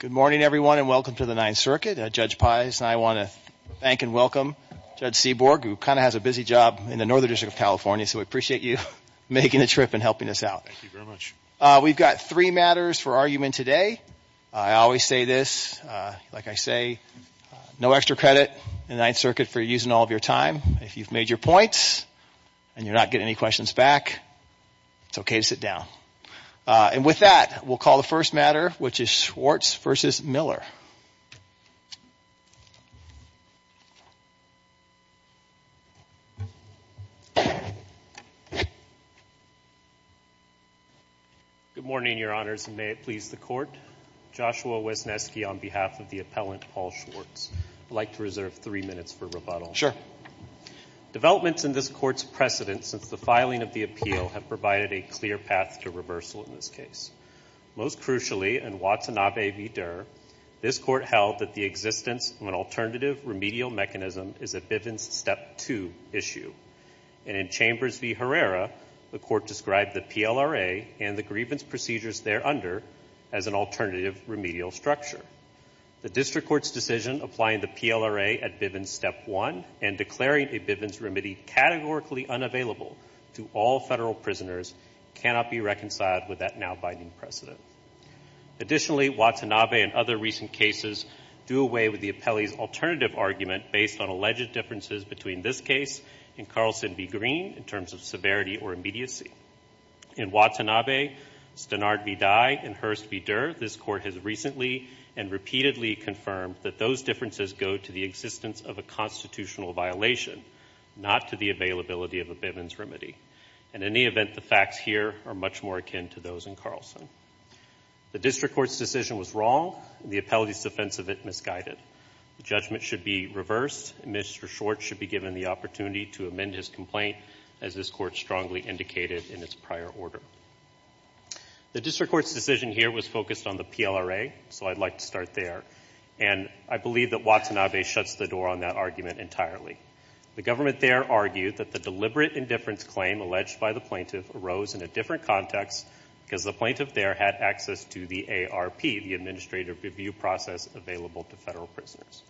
Good morning, everyone, and welcome to the Ninth Circuit. Judge Pius and I want to thank and welcome Judge Seaborg, who kind of has a busy job in the Northern District of California, so we appreciate you making the trip and helping us out. Thank you very much. We've got three matters for argument today. I always say this, like I say, no extra credit in the Ninth Circuit for using all of your time. If you've made your points and you're not getting any questions back, it's okay to sit down. And with that, we'll call the first matter, which is Schwartz v. Miller. Good morning, Your Honors, and may it please the Court. Joshua Wesneski on behalf of the appellant, Paul Schwartz. I'd like to reserve three minutes for rebuttal. Sure. Developments in this Court's precedent since the filing of the appeal have provided a clear path to reversal in this case. Most crucially, in Watanabe v. Durr, this Court held that the existence of an alternative remedial mechanism is a Bivens Step 2 issue, and in Chambers v. Herrera, the Court described the PLRA and the grievance procedures thereunder as an alternative remedial structure. The District Court's decision applying the PLRA at Bivens Step 1 and declaring a Bivens remedy categorically unavailable to all federal prisoners cannot be reconciled with that now-binding precedent. Additionally, Watanabe and other recent cases do away with the appellee's alternative argument based on alleged differences between this case and Carlson v. Green in terms of severity or immediacy. In Watanabe, Stenard v. Dye, and Hurst v. Durr, this Court has recently and repeatedly confirmed that those differences go to the existence of a constitutional violation, not to the availability of a Bivens remedy. In any event, the facts here are much more akin to those in Carlson. The District Court's decision was wrong, and the appellee's defense of it misguided. The judgment should be reversed, and Mr. Schwartz should be given the opportunity to amend his complaint, as this Court strongly indicated in its prior order. The District Court's decision here was focused on the PLRA, so I'd like to start there, and I believe that Watanabe shuts the door on that argument entirely. The government there argued that the deliberate indifference claim alleged by the plaintiff arose in a different context because the plaintiff there had access to the ARP, the Administrative Review Process, available to federal prisoners.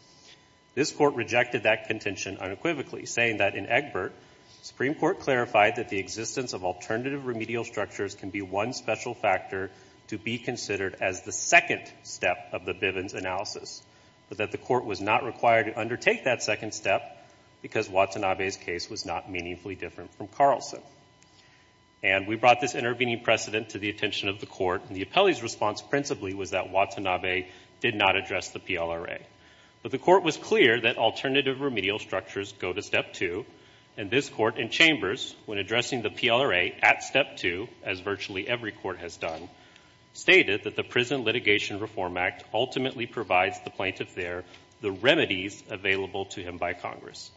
This Court rejected that contention unequivocally, saying that in Egbert, the Supreme Court clarified that the existence of alternative remedial structures can be one special factor to be considered as the second step of the Bivens analysis, but that the Court was not required to undertake that second step because Watanabe's case was not meaningfully different from Carlson. And we brought this intervening precedent to the attention of the Court, and the appellee's response principally was that Watanabe did not address the PLRA. But the Court was clear that alternative remedial structures go to step two, and this Court and Chambers, when addressing the PLRA at step two, as virtually every Court has done, stated that the Prison Litigation Reform Act ultimately provides the plaintiff there the remedies available to him by Congress.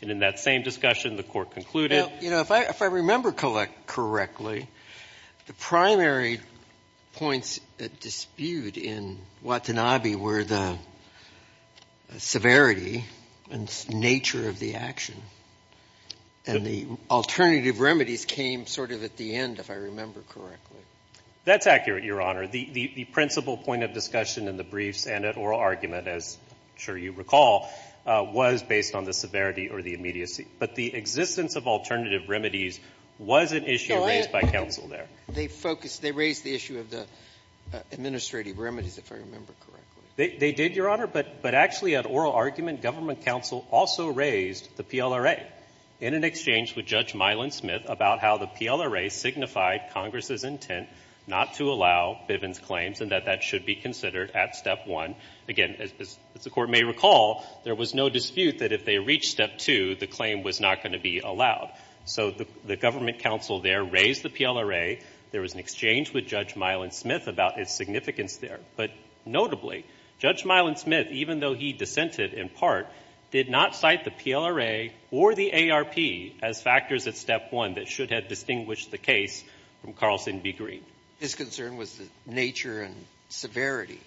And in that same discussion, the Court concluded — You know, if I remember correctly, the primary points at dispute in Watanabe were the severity and nature of the action, and the alternative remedies came sort of at the end, if I remember correctly. That's accurate, Your Honor. The principal point of discussion in the briefs and at oral argument, as I'm sure you recall, was based on the severity or the immediacy. But the existence of alternative remedies was an issue raised by counsel there. They focused — they raised the issue of the administrative remedies, if I remember correctly. They did, Your Honor. But actually, at oral argument, government counsel also raised the PLRA in an exchange with Judge Milan-Smith about how the PLRA signified Congress's intent not to allow Bivens' claims and that that should be considered at step one. Again, as the Court may recall, there was no dispute that if they reached step two, the claim was not going to be allowed. So the government counsel there raised the PLRA. There was an exchange with Judge Milan-Smith about its significance there. But notably, Judge Milan-Smith, even though he dissented in part, did not cite the PLRA or the ARP as factors at step one that should have distinguished the case from Carlson v. Green. His concern was the nature and severity.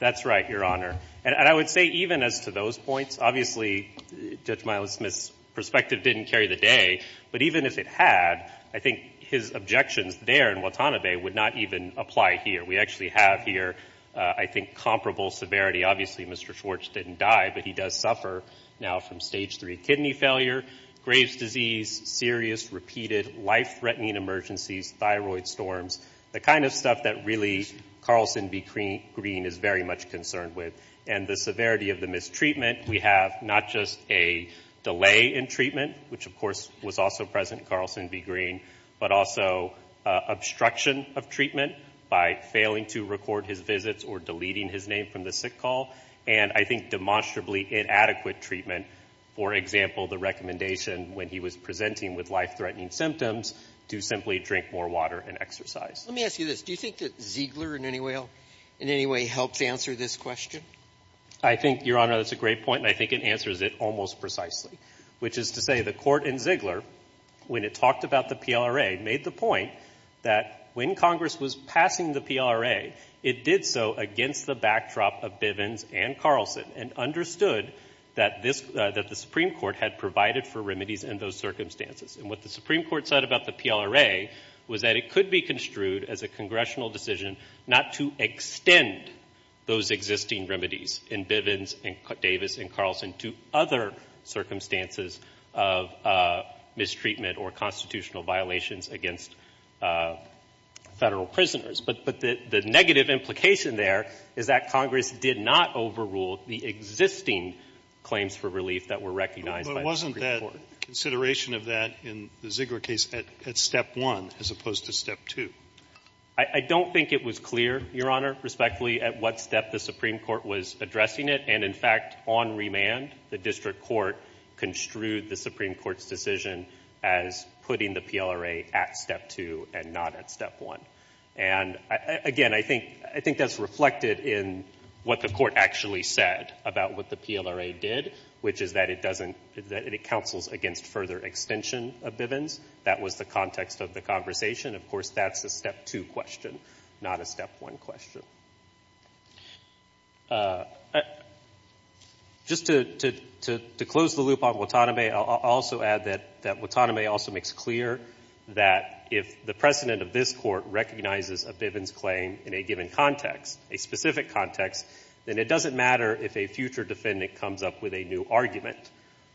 That's right, Your Honor. And I would say even as to those points, obviously, Judge Milan-Smith's perspective didn't carry the day. But even if it had, I think his objections there in Watanabe would not even apply here. We actually have here, I think, comparable severity. Obviously, Mr. Schwartz didn't die, but he does suffer now from stage three kidney failure, Graves' disease, serious, repeated, life-threatening emergencies, thyroid storms, the kind of stuff that really Carlson v. Green is very much concerned with, and the severity of the mistreatment. We have not just a delay in treatment, which, of course, was also present in Carlson v. Green, but also obstruction of treatment by failing to record his visits or deleting his name from the sick call, and I think demonstrably inadequate treatment. For example, the recommendation when he was presenting with life-threatening symptoms to simply drink more water and exercise. Let me ask you this. Do you think that Ziegler in any way helps answer this question? I think, Your Honor, that's a great point, and I think it answers it almost precisely, which is to say the Court in Ziegler, when it talked about the PLRA, made the point that when Congress was passing the PLRA, it did so against the backdrop of Bivens and Carlson and understood that this — that the Supreme Court had provided for remedies in those circumstances. And what the Supreme Court said about the PLRA was that it could be construed as a congressional decision not to extend those existing remedies in Bivens and Davis and Carlson to other circumstances of mistreatment or constitutional violations against Federal prisoners. But the negative implication there is that Congress did not overrule the existing claims for relief that were recognized by the Supreme Court. Consideration of that in the Ziegler case at step one, as opposed to step two. I don't think it was clear, Your Honor, respectfully, at what step the Supreme Court was addressing it. And in fact, on remand, the District Court construed the Supreme Court's decision as putting the PLRA at step two and not at step one. And again, I think — I think that's reflected in what the Court actually said about what the PLRA did, which is that it doesn't — that it counsels against further extension of Bivens. That was the context of the conversation. Of course, that's a step two question, not a step one question. Just to close the loop on Watanabe, I'll also add that Watanabe also makes clear that if the precedent of this Court recognizes a Bivens claim in a given context, a specific future defendant comes up with a new argument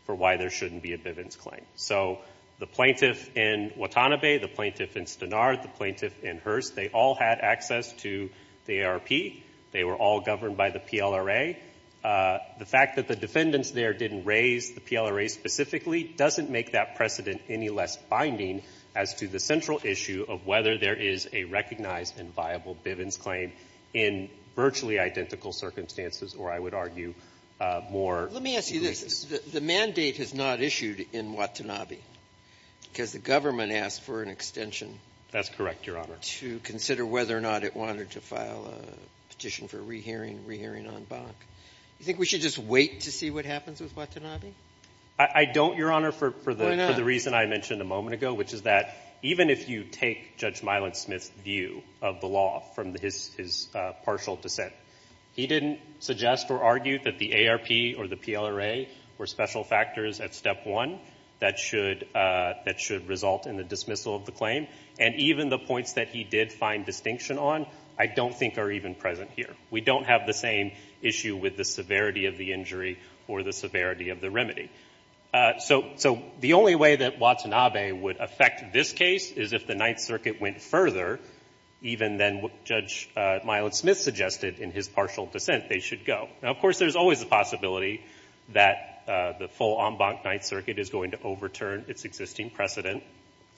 for why there shouldn't be a Bivens claim. So the plaintiff in Watanabe, the plaintiff in Stenard, the plaintiff in Hearst, they all had access to the ARP. They were all governed by the PLRA. The fact that the defendants there didn't raise the PLRA specifically doesn't make that precedent any less binding as to the central issue of whether there is a recognized and viable Bivens claim in virtually identical circumstances or, I would argue, more — Let me ask you this. The mandate is not issued in Watanabe, because the government asked for an extension — That's correct, Your Honor. — to consider whether or not it wanted to file a petition for re-hearing, re-hearing on Bach. Do you think we should just wait to see what happens with Watanabe? I don't, Your Honor, for the reason I mentioned a moment ago, which is that even if you take Judge Myland-Smith's view of the law from his partial dissent, he didn't suggest or argue that the ARP or the PLRA were special factors at step one that should result in the dismissal of the claim. And even the points that he did find distinction on I don't think are even present here. We don't have the same issue with the severity of the injury or the severity of the remedy. So the only way that Watanabe would affect this case is if the Ninth Circuit went further, even than what Judge Myland-Smith suggested in his partial dissent, they should go. Now, of course, there's always the possibility that the full en banc Ninth Circuit is going to overturn its existing precedent,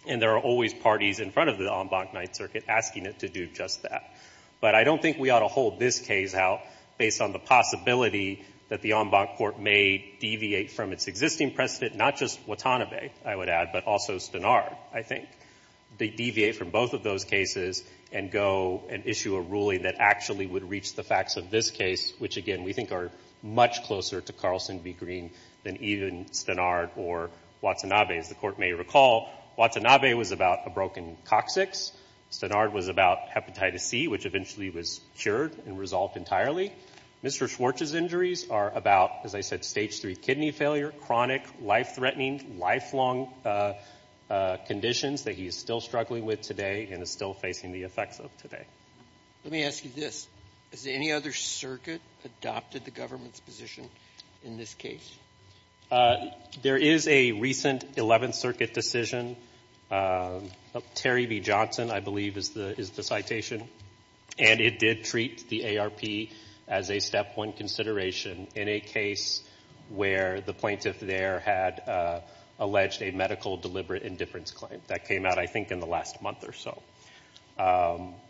and there are always parties in front of the en banc Ninth Circuit asking it to do just that. But I don't think we ought to hold this case out based on the possibility that the en banc court may deviate from its existing precedent, not just Watanabe, I would add, but also Stenard, I think. They deviate from both of those cases and go and issue a ruling that actually would reach the facts of this case, which, again, we think are much closer to Carlson v. Green than even Stenard or Watanabe. As the Court may recall, Watanabe was about a broken coccyx. Stenard was about hepatitis C, which eventually was cured and resolved entirely. Mr. Schwartz's injuries are about, as I said, stage three kidney failure, chronic, life-threatening, lifelong conditions that he is still struggling with today and is still facing the effects of today. Let me ask you this. Has any other circuit adopted the government's position in this case? There is a recent Eleventh Circuit decision, Terry v. Johnson, I believe, is the citation. And it did treat the ARP as a step one consideration in a case where the plaintiff there had alleged a medical deliberate indifference claim. That came out, I think, in the last month or so.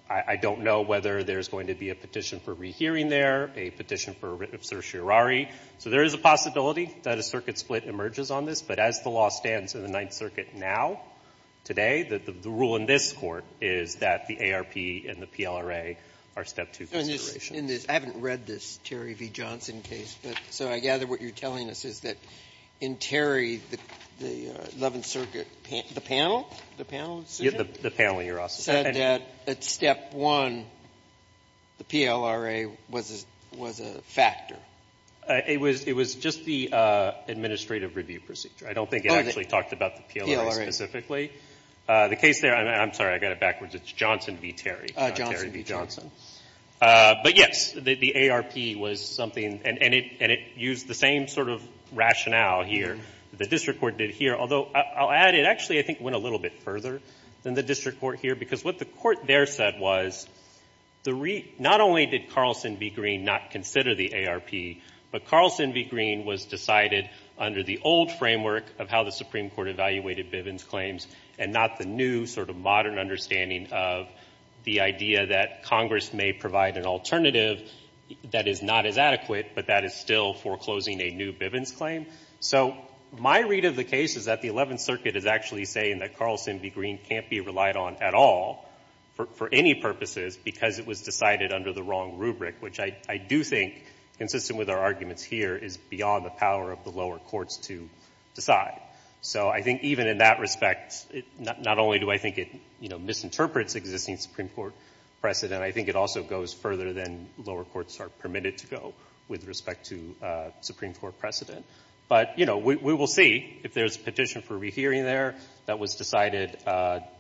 I don't know whether there's going to be a petition for rehearing there, a petition for certiorari. So there is a possibility that a circuit split emerges on this, but as the law stands in the Ninth Circuit now, today, the rule in this Court is that the ARP and the PLRA are step two considerations. In this, I haven't read this Terry v. Johnson case, but so I gather what you're telling us is that in Terry, the Eleventh Circuit, the panel, the panel decision? The panel in your office. Said that at step one, the PLRA was a factor. It was just the administrative review procedure. I don't think it actually talked about the PLRA specifically. The case there, I'm sorry, I got it backwards. It's Johnson v. Terry. Johnson v. Johnson. But yes, the ARP was something, and it used the same sort of rationale here that the district court did here, although I'll add it actually, I think, went a little bit further than the district court here, because what the court there said was, not only did Carlson v. Green not consider the ARP, but Carlson v. Green was decided under the old framework of how the Supreme Court evaluated Bivens claims and not the new sort of modern understanding of the idea that Congress may provide an alternative that is not as adequate, but that is still foreclosing a new Bivens claim. So my read of the case is that the Eleventh Circuit is actually saying that Carlson v. Green can't be relied on at all for any purposes because it was decided under the wrong rubric, which I do think, consistent with our arguments here, is beyond the power of the lower courts to decide. So I think even in that respect, not only do I think it misinterprets existing Supreme Court precedent, I think it also goes further than lower courts are permitted to go with respect to Supreme Court precedent. But we will see if there's a petition for rehearing there that was decided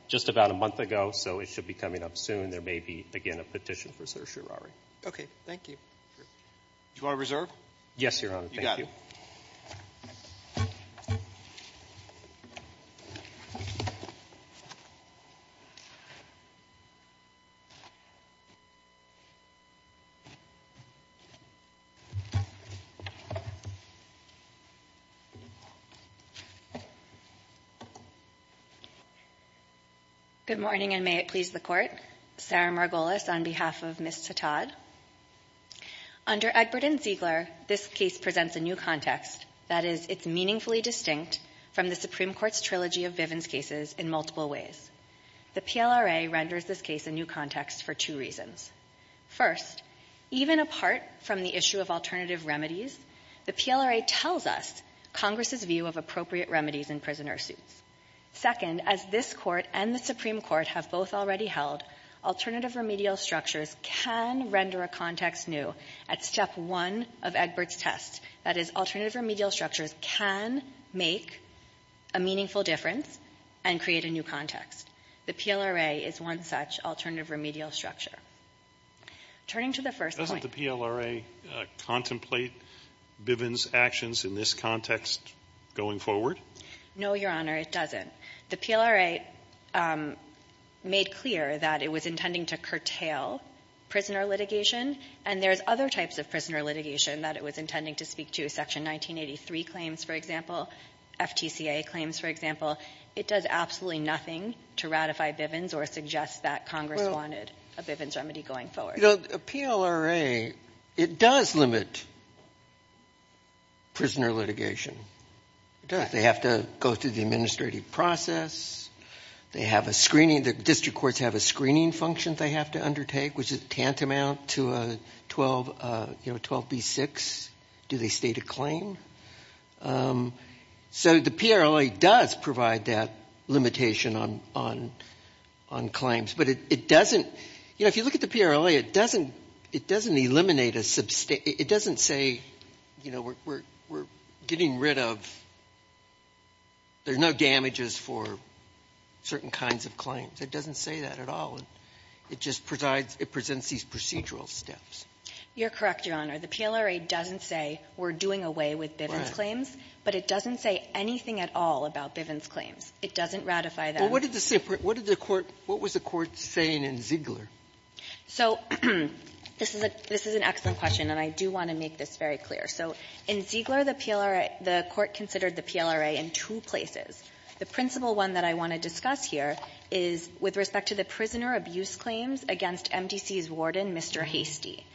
just about a month ago. So it should be coming up soon. There may be, again, a petition for certiorari. Okay, thank you. Do I reserve? Yes, Your Honor. Thank you. Good morning, and may it please the Court. Sarah Margolis on behalf of Ms. Tetodd. Under Egbert and Ziegler, this case presents a new context. That is, it's meaningfully distinct from the Supreme Court's trilogy of Vivens cases in multiple ways. The PLRA renders this case a new context for two reasons. First, even apart from the issue of alternative remedies, the PLRA tells us Congress's view of appropriate remedies in prisoner suits. Second, as this Court and the Supreme Court have both already held, alternative remedial structures can render a context new at step one of Egbert's test. That is, alternative remedial structures can make a meaningful difference and create a new context. The PLRA is one such alternative remedial structure. Turning to the first point — Doesn't the PLRA contemplate Vivens' actions in this context going forward? No, Your Honor, it doesn't. The PLRA made clear that it was intending to curtail prisoner litigation. And there's other types of prisoner litigation that it was intending to speak to. Section 1983 claims, for example, FTCA claims, for example. It does absolutely nothing to ratify Vivens or suggest that Congress wanted a Vivens remedy going forward. You know, PLRA, it does limit prisoner litigation. It does. They have to go through the administrative process. They have a screening. The district courts have a screening function they have to undertake, which is tantamount to a 12B6, do they state a claim? So the PLRA does provide that limitation on claims. But it doesn't — you know, if you look at the PLRA, it doesn't eliminate a — it doesn't say, you know, we're — we're getting rid of — there's no damages for certain kinds of claims. It doesn't say that at all. It just presides — it presents these procedural steps. You're correct, Your Honor. The PLRA doesn't say we're doing away with Vivens' claims, but it doesn't say anything at all about Vivens' claims. It doesn't ratify them. Well, what did the court — what was the court saying in Ziegler? So this is a — this is an excellent question, and I do want to make this very clear. So in Ziegler, the PLRA — the court considered the PLRA in two places. The principal one that I want to discuss here is with respect to the prisoner abuse claims against MDC's warden, Mr. Hastie.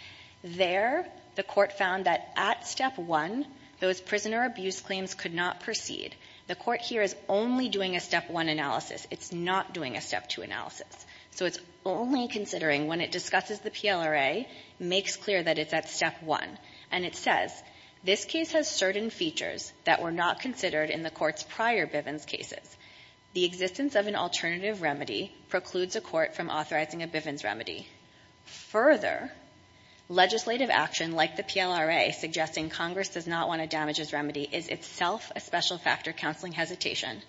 There, the court found that at Step 1, those prisoner abuse claims could not proceed. The court here is only doing a Step 1 analysis. It's not doing a Step 2 analysis. So it's only considering when it discusses the PLRA, makes clear that it's at Step 1. And it says, this case has certain features that were not considered in the court's prior Vivens' cases. The existence of an alternative remedy precludes a court from authorizing a Vivens' Further, legislative action like the PLRA suggesting Congress does not want to damage its remedy is itself a special-factor counseling hesitation.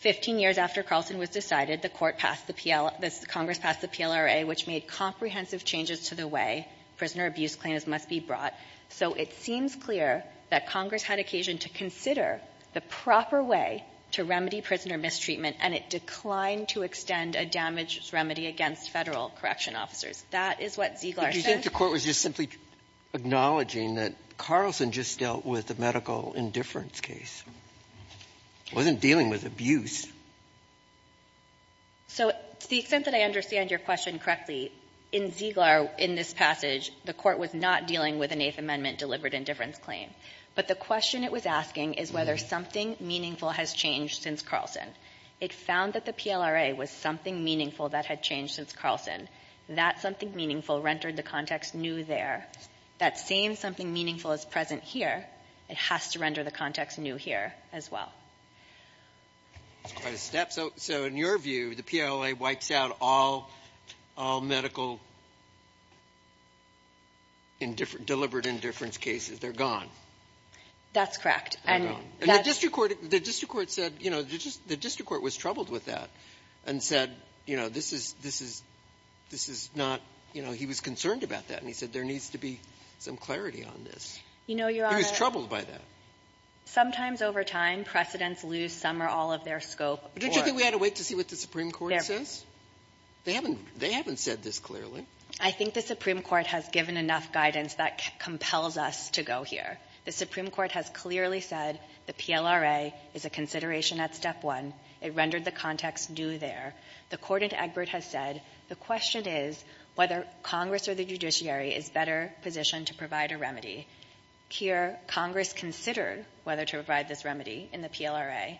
Fifteen years after Carlson was decided, the court passed the PL — Congress passed the PLRA, which made comprehensive changes to the way prisoner abuse claims must be brought. So it seems clear that Congress had occasion to consider the proper way to remedy prisoner mistreatment, and it declined to extend a damage remedy against Federal correction officers. That is what Ziegler said. Sotomayor, do you think the court was just simply acknowledging that Carlson just dealt with a medical indifference case, wasn't dealing with abuse? So to the extent that I understand your question correctly, in Ziegler, in this passage, the court was not dealing with an Eighth Amendment-delivered indifference claim. But the question it was asking is whether something meaningful has changed since Carlson. It found that the PLRA was something meaningful that had changed since Carlson. That something meaningful rendered the context new there. That same something meaningful is present here. It has to render the context new here as well. That's quite a step. So in your view, the PLRA wipes out all medical indifferent — deliberate indifference cases. They're gone. That's correct. They're gone. And the district court — the district court said, you know, the district court was troubled with that and said, you know, this is — this is — this is not — you know, he was concerned about that. And he said there needs to be some clarity on this. You know, Your Honor — He was troubled by that. Sometimes over time, precedents lose some or all of their scope or — But don't you think we ought to wait to see what the Supreme Court says? They haven't — they haven't said this clearly. I think the Supreme Court has given enough guidance that compels us to go here. The Supreme Court has clearly said the PLRA is a consideration at step one. It rendered the context new there. The court in Egbert has said the question is whether Congress or the judiciary is better positioned to provide a remedy. Here, Congress considered whether to provide this remedy in the PLRA,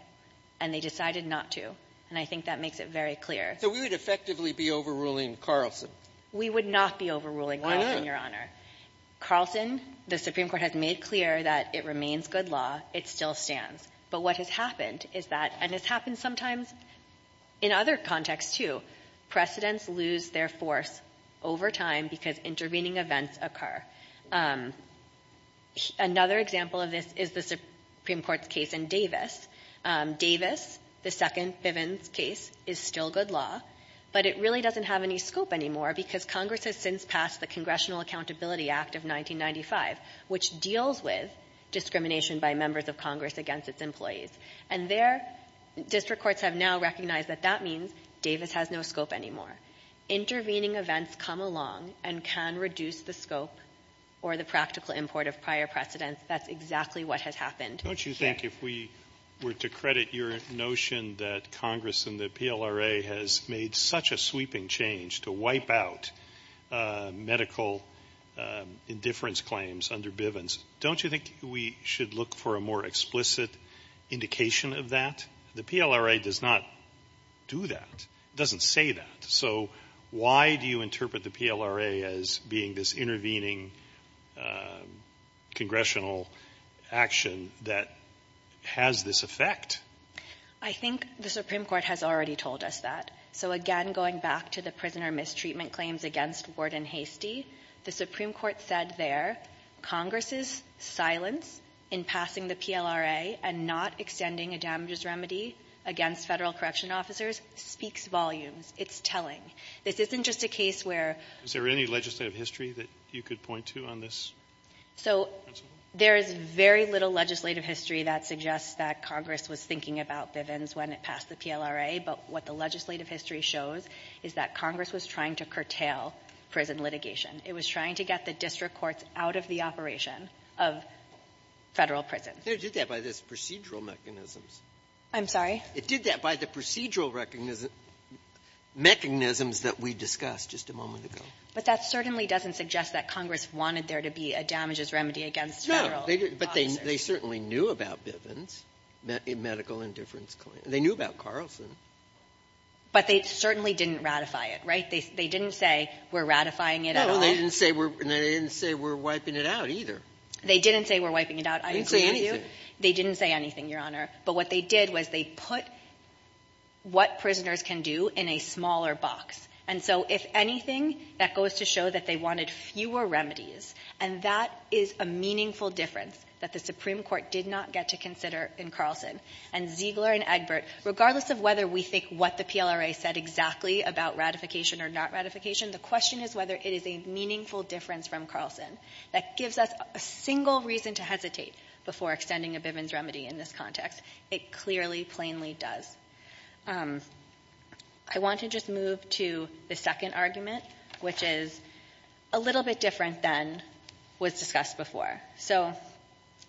and they decided not to. And I think that makes it very clear. So we would effectively be overruling Carlson? We would not be overruling Carlson, Your Honor. Carlson, the Supreme Court has made clear that it remains good law. It still stands. But what has happened is that — and it's happened sometimes in other contexts, too — precedents lose their force over time because intervening events occur. Another example of this is the Supreme Court's case in Davis. Davis, the second Bivens case, is still good law, but it really doesn't have any scope anymore because Congress has since passed the Congressional Accountability Act of 1995, which deals with discrimination by members of Congress against its employees. And their district courts have now recognized that that means Davis has no scope anymore. Intervening events come along and can reduce the scope or the practical import of prior precedents. That's exactly what has happened. Don't you think, if we were to credit your notion that Congress and the PLRA has made such a sweeping change to wipe out medical indifference claims under Bivens, don't you think we should look for a more explicit indication of that? The PLRA does not do that, doesn't say that. So why do you interpret the PLRA as being this intervening congressional action that has this effect? I think the Supreme Court has already told us that. So again, going back to the prisoner mistreatment claims against Ward and Hastie, the Supreme Court said there Congress's silence in passing the PLRA and not extending a damages remedy against Federal correction officers speaks volumes. It's telling. This isn't just a case where — Is there any legislative history that you could point to on this? So there is very little legislative history that suggests that Congress was thinking about Bivens when it passed the PLRA. But what the legislative history shows is that Congress was trying to curtail prison litigation. It was trying to get the district courts out of the operation of Federal prisons. They did that by the procedural mechanisms. I'm sorry? It did that by the procedural mechanisms that we discussed just a moment ago. But that certainly doesn't suggest that Congress wanted there to be a damages remedy against Federal officers. But they certainly knew about Bivens, a medical indifference claim. They knew about Carlson. But they certainly didn't ratify it, right? They didn't say, we're ratifying it at all. No, they didn't say we're wiping it out either. They didn't say we're wiping it out. I didn't say anything. They didn't say anything, Your Honor. But what they did was they put what prisoners can do in a smaller box. And so if anything, that goes to show that they wanted fewer remedies. And that is a meaningful difference that the Supreme Court did not get to consider in Carlson. And Ziegler and Egbert, regardless of whether we think what the PLRA said exactly about ratification or not ratification, the question is whether it is a meaningful difference from Carlson that gives us a single reason to hesitate before extending a Bivens remedy in this context. It clearly, plainly does. I want to just move to the second argument, which is a little bit different than was discussed before. So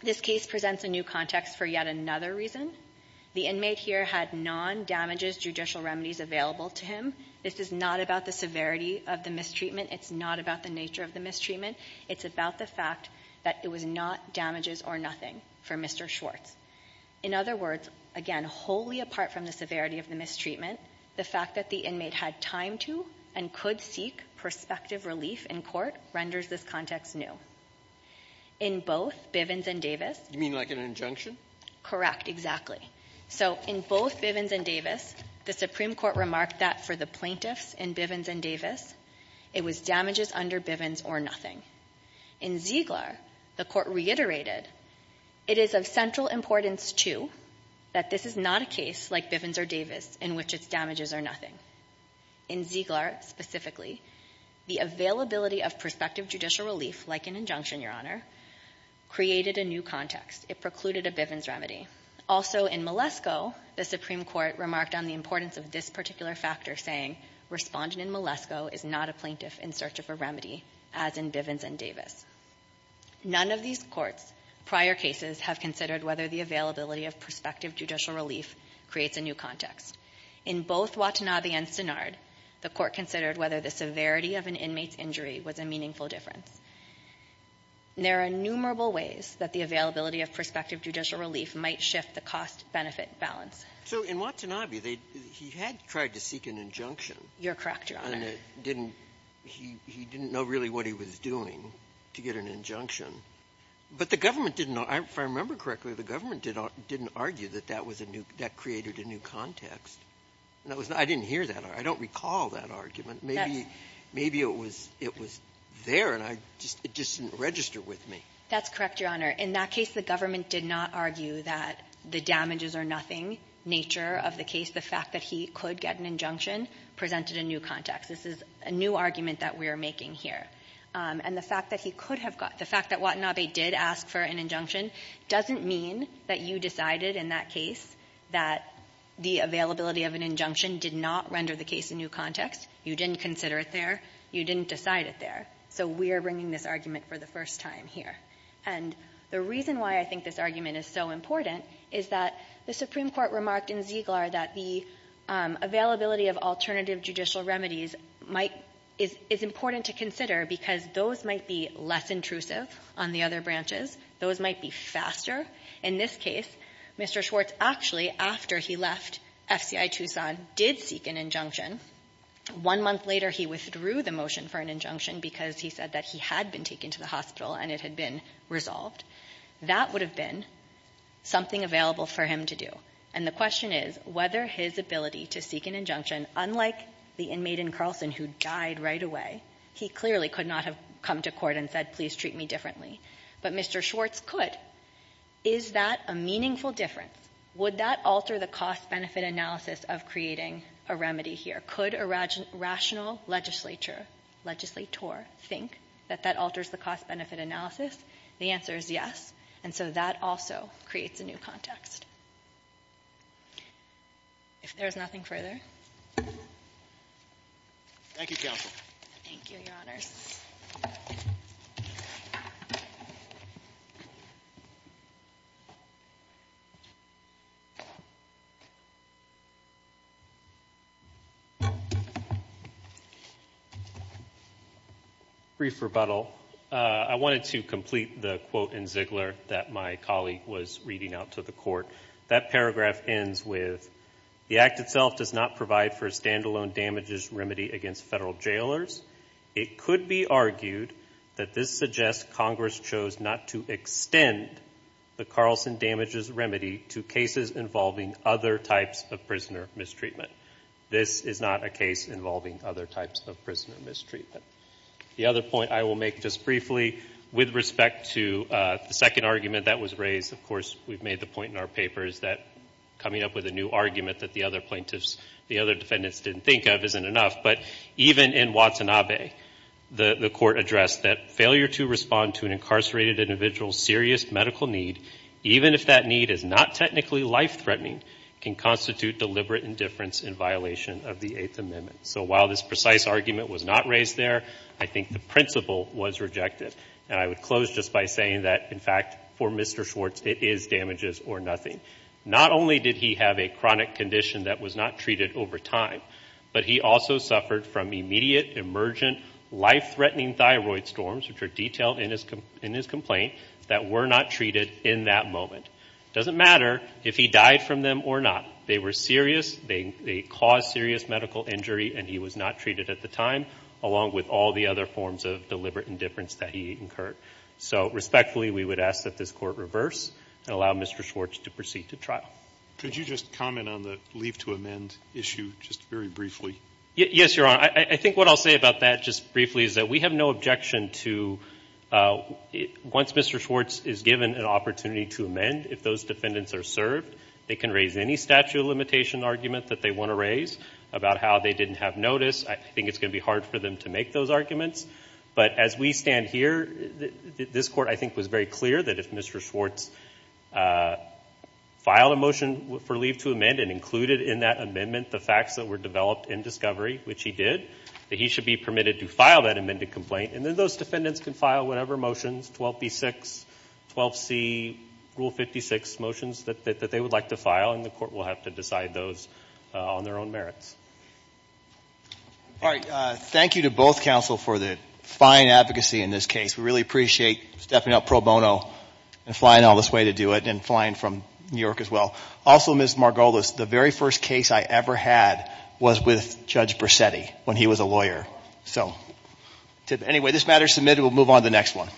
this case presents a new context for yet another reason. The inmate here had non-damages judicial remedies available to him. This is not about the severity of the mistreatment. It's not about the nature of the mistreatment. It's about the fact that it was not damages or nothing for Mr. Schwartz. In other words, again, wholly apart from the severity of the mistreatment, the fact that the inmate had time to and could seek prospective relief in court renders this context new. In both Bivens and Davis — You mean like an injunction? Correct, exactly. So in both Bivens and Davis, the Supreme Court remarked that for the plaintiffs in Bivens and Davis, it was damages under Bivens or nothing. In Ziegler, the Court reiterated, it is of central importance, too, that this is not a case like Bivens or Davis in which its damages are nothing. In Ziegler specifically, the availability of prospective judicial relief, like an injunction, Your Honor, created a new context. It precluded a Bivens remedy. Also, in Malesko, the Supreme Court remarked on the importance of this particular factor, saying, Respondent in Malesko is not a plaintiff in search of a remedy, as in Bivens and Davis. None of these courts' prior cases have considered whether the availability of prospective judicial relief creates a new context. In both Watanabe and Synard, the Court considered whether the severity of an inmate's injury was a meaningful difference. There are innumerable ways that the availability of prospective judicial relief might shift the cost-benefit balance. So in Watanabe, they — he had tried to seek an injunction. You're correct, Your Honor. And it didn't — he didn't know really what he was doing to get an injunction. But the government didn't — if I remember correctly, the government didn't argue that that was a new — that created a new context. And that was — I didn't hear that. I don't recall that argument. Maybe — maybe it was — it was there, and I just — it just didn't register with me. That's correct, Your Honor. In that case, the government did not argue that the damages-or-nothing nature of the case, the fact that he could get an injunction, presented a new context. This is a new argument that we are making here. And the fact that he could have got — the fact that Watanabe did ask for an injunction doesn't mean that you decided in that case that the availability of an injunction did not render the case a new context. You didn't consider it there. You didn't decide it there. So we are bringing this argument for the first time here. And the reason why I think this argument is so important is that the Supreme Court remarked in Ziegler that the availability of alternative judicial remedies might — is important to consider because those might be less intrusive on the other branches. Those might be faster. In this case, Mr. Schwartz, actually, after he left FCI Tucson, did seek an injunction. One month later, he withdrew the motion for an injunction because he said that he had been taken to the hospital and it had been resolved. That would have been something available for him to do. And the question is whether his ability to seek an injunction, unlike the inmate in Carlson who died right away, he clearly could not have come to court and said, please treat me differently. But Mr. Schwartz could. Is that a meaningful difference? Would that alter the cost-benefit analysis of creating a remedy here? Could a rational legislature, legislator, think that that alters the cost-benefit analysis? The answer is yes, and so that also creates a new context. If there is nothing further. Thank you, counsel. Thank you, your honors. Brief rebuttal. I wanted to complete the quote in Ziegler that my colleague was reading out to the court. That paragraph ends with, the act itself does not provide for a standalone damages remedy against federal jailers. It could be argued that this suggests Congress chose not to extend the Carlson damages remedy to cases involving other types of prisoner mistreatment. This is not a case involving other types of prisoner mistreatment. The other point I will make just briefly with respect to the second argument that was raised, of course, we've made the point in our papers that coming up with a new argument that the other plaintiffs, the other defendants didn't think of isn't enough. But even in Watanabe, the court addressed that failure to respond to an incarcerated individual's serious medical need, even if that need is not technically life-threatening, can constitute deliberate indifference in violation of the Eighth Amendment. So while this precise argument was not raised there, I think the principle was rejected. And I would close just by saying that, in fact, for Mr. Schwartz, it is damages or nothing. Not only did he have a chronic condition that was not treated over time, but he also suffered from immediate emergent life-threatening thyroid storms, which are detailed in his complaint, that were not treated in that moment. It doesn't matter if he died from them or not. They were serious, they caused serious medical injury, and he was not treated at the time, along with all the other forms of deliberate indifference that he incurred. So respectfully, we would ask that this court reverse and allow Mr. Schwartz to proceed to trial. Could you just comment on the leave to amend issue, just very briefly? Yes, Your Honor. I think what I'll say about that, just briefly, is that we have no objection to once Mr. Schwartz is given an opportunity to amend, if those defendants are served, they can raise any statute of limitation argument that they want to raise about how they didn't have notice. I think it's going to be hard for them to make those arguments. But as we stand here, this court, I think, was very clear that if Mr. Schwartz filed a motion for leave to amend and included in that amendment the facts that were developed in discovery, which he did, that he should be permitted to file that amended complaint. And then those defendants can file whatever motions, 12B6, 12C, Rule 56 motions that they would like to file, and the court will have to decide those on their own merits. All right, thank you to both counsel for the fine advocacy in this case. We really appreciate stepping up pro bono and flying all this way to do it, and flying from New York as well. Also, Ms. Margolis, the very first case I ever had was with Judge Brissetti when he was a lawyer. So, anyway, this matter is submitted. We'll move on to the next one.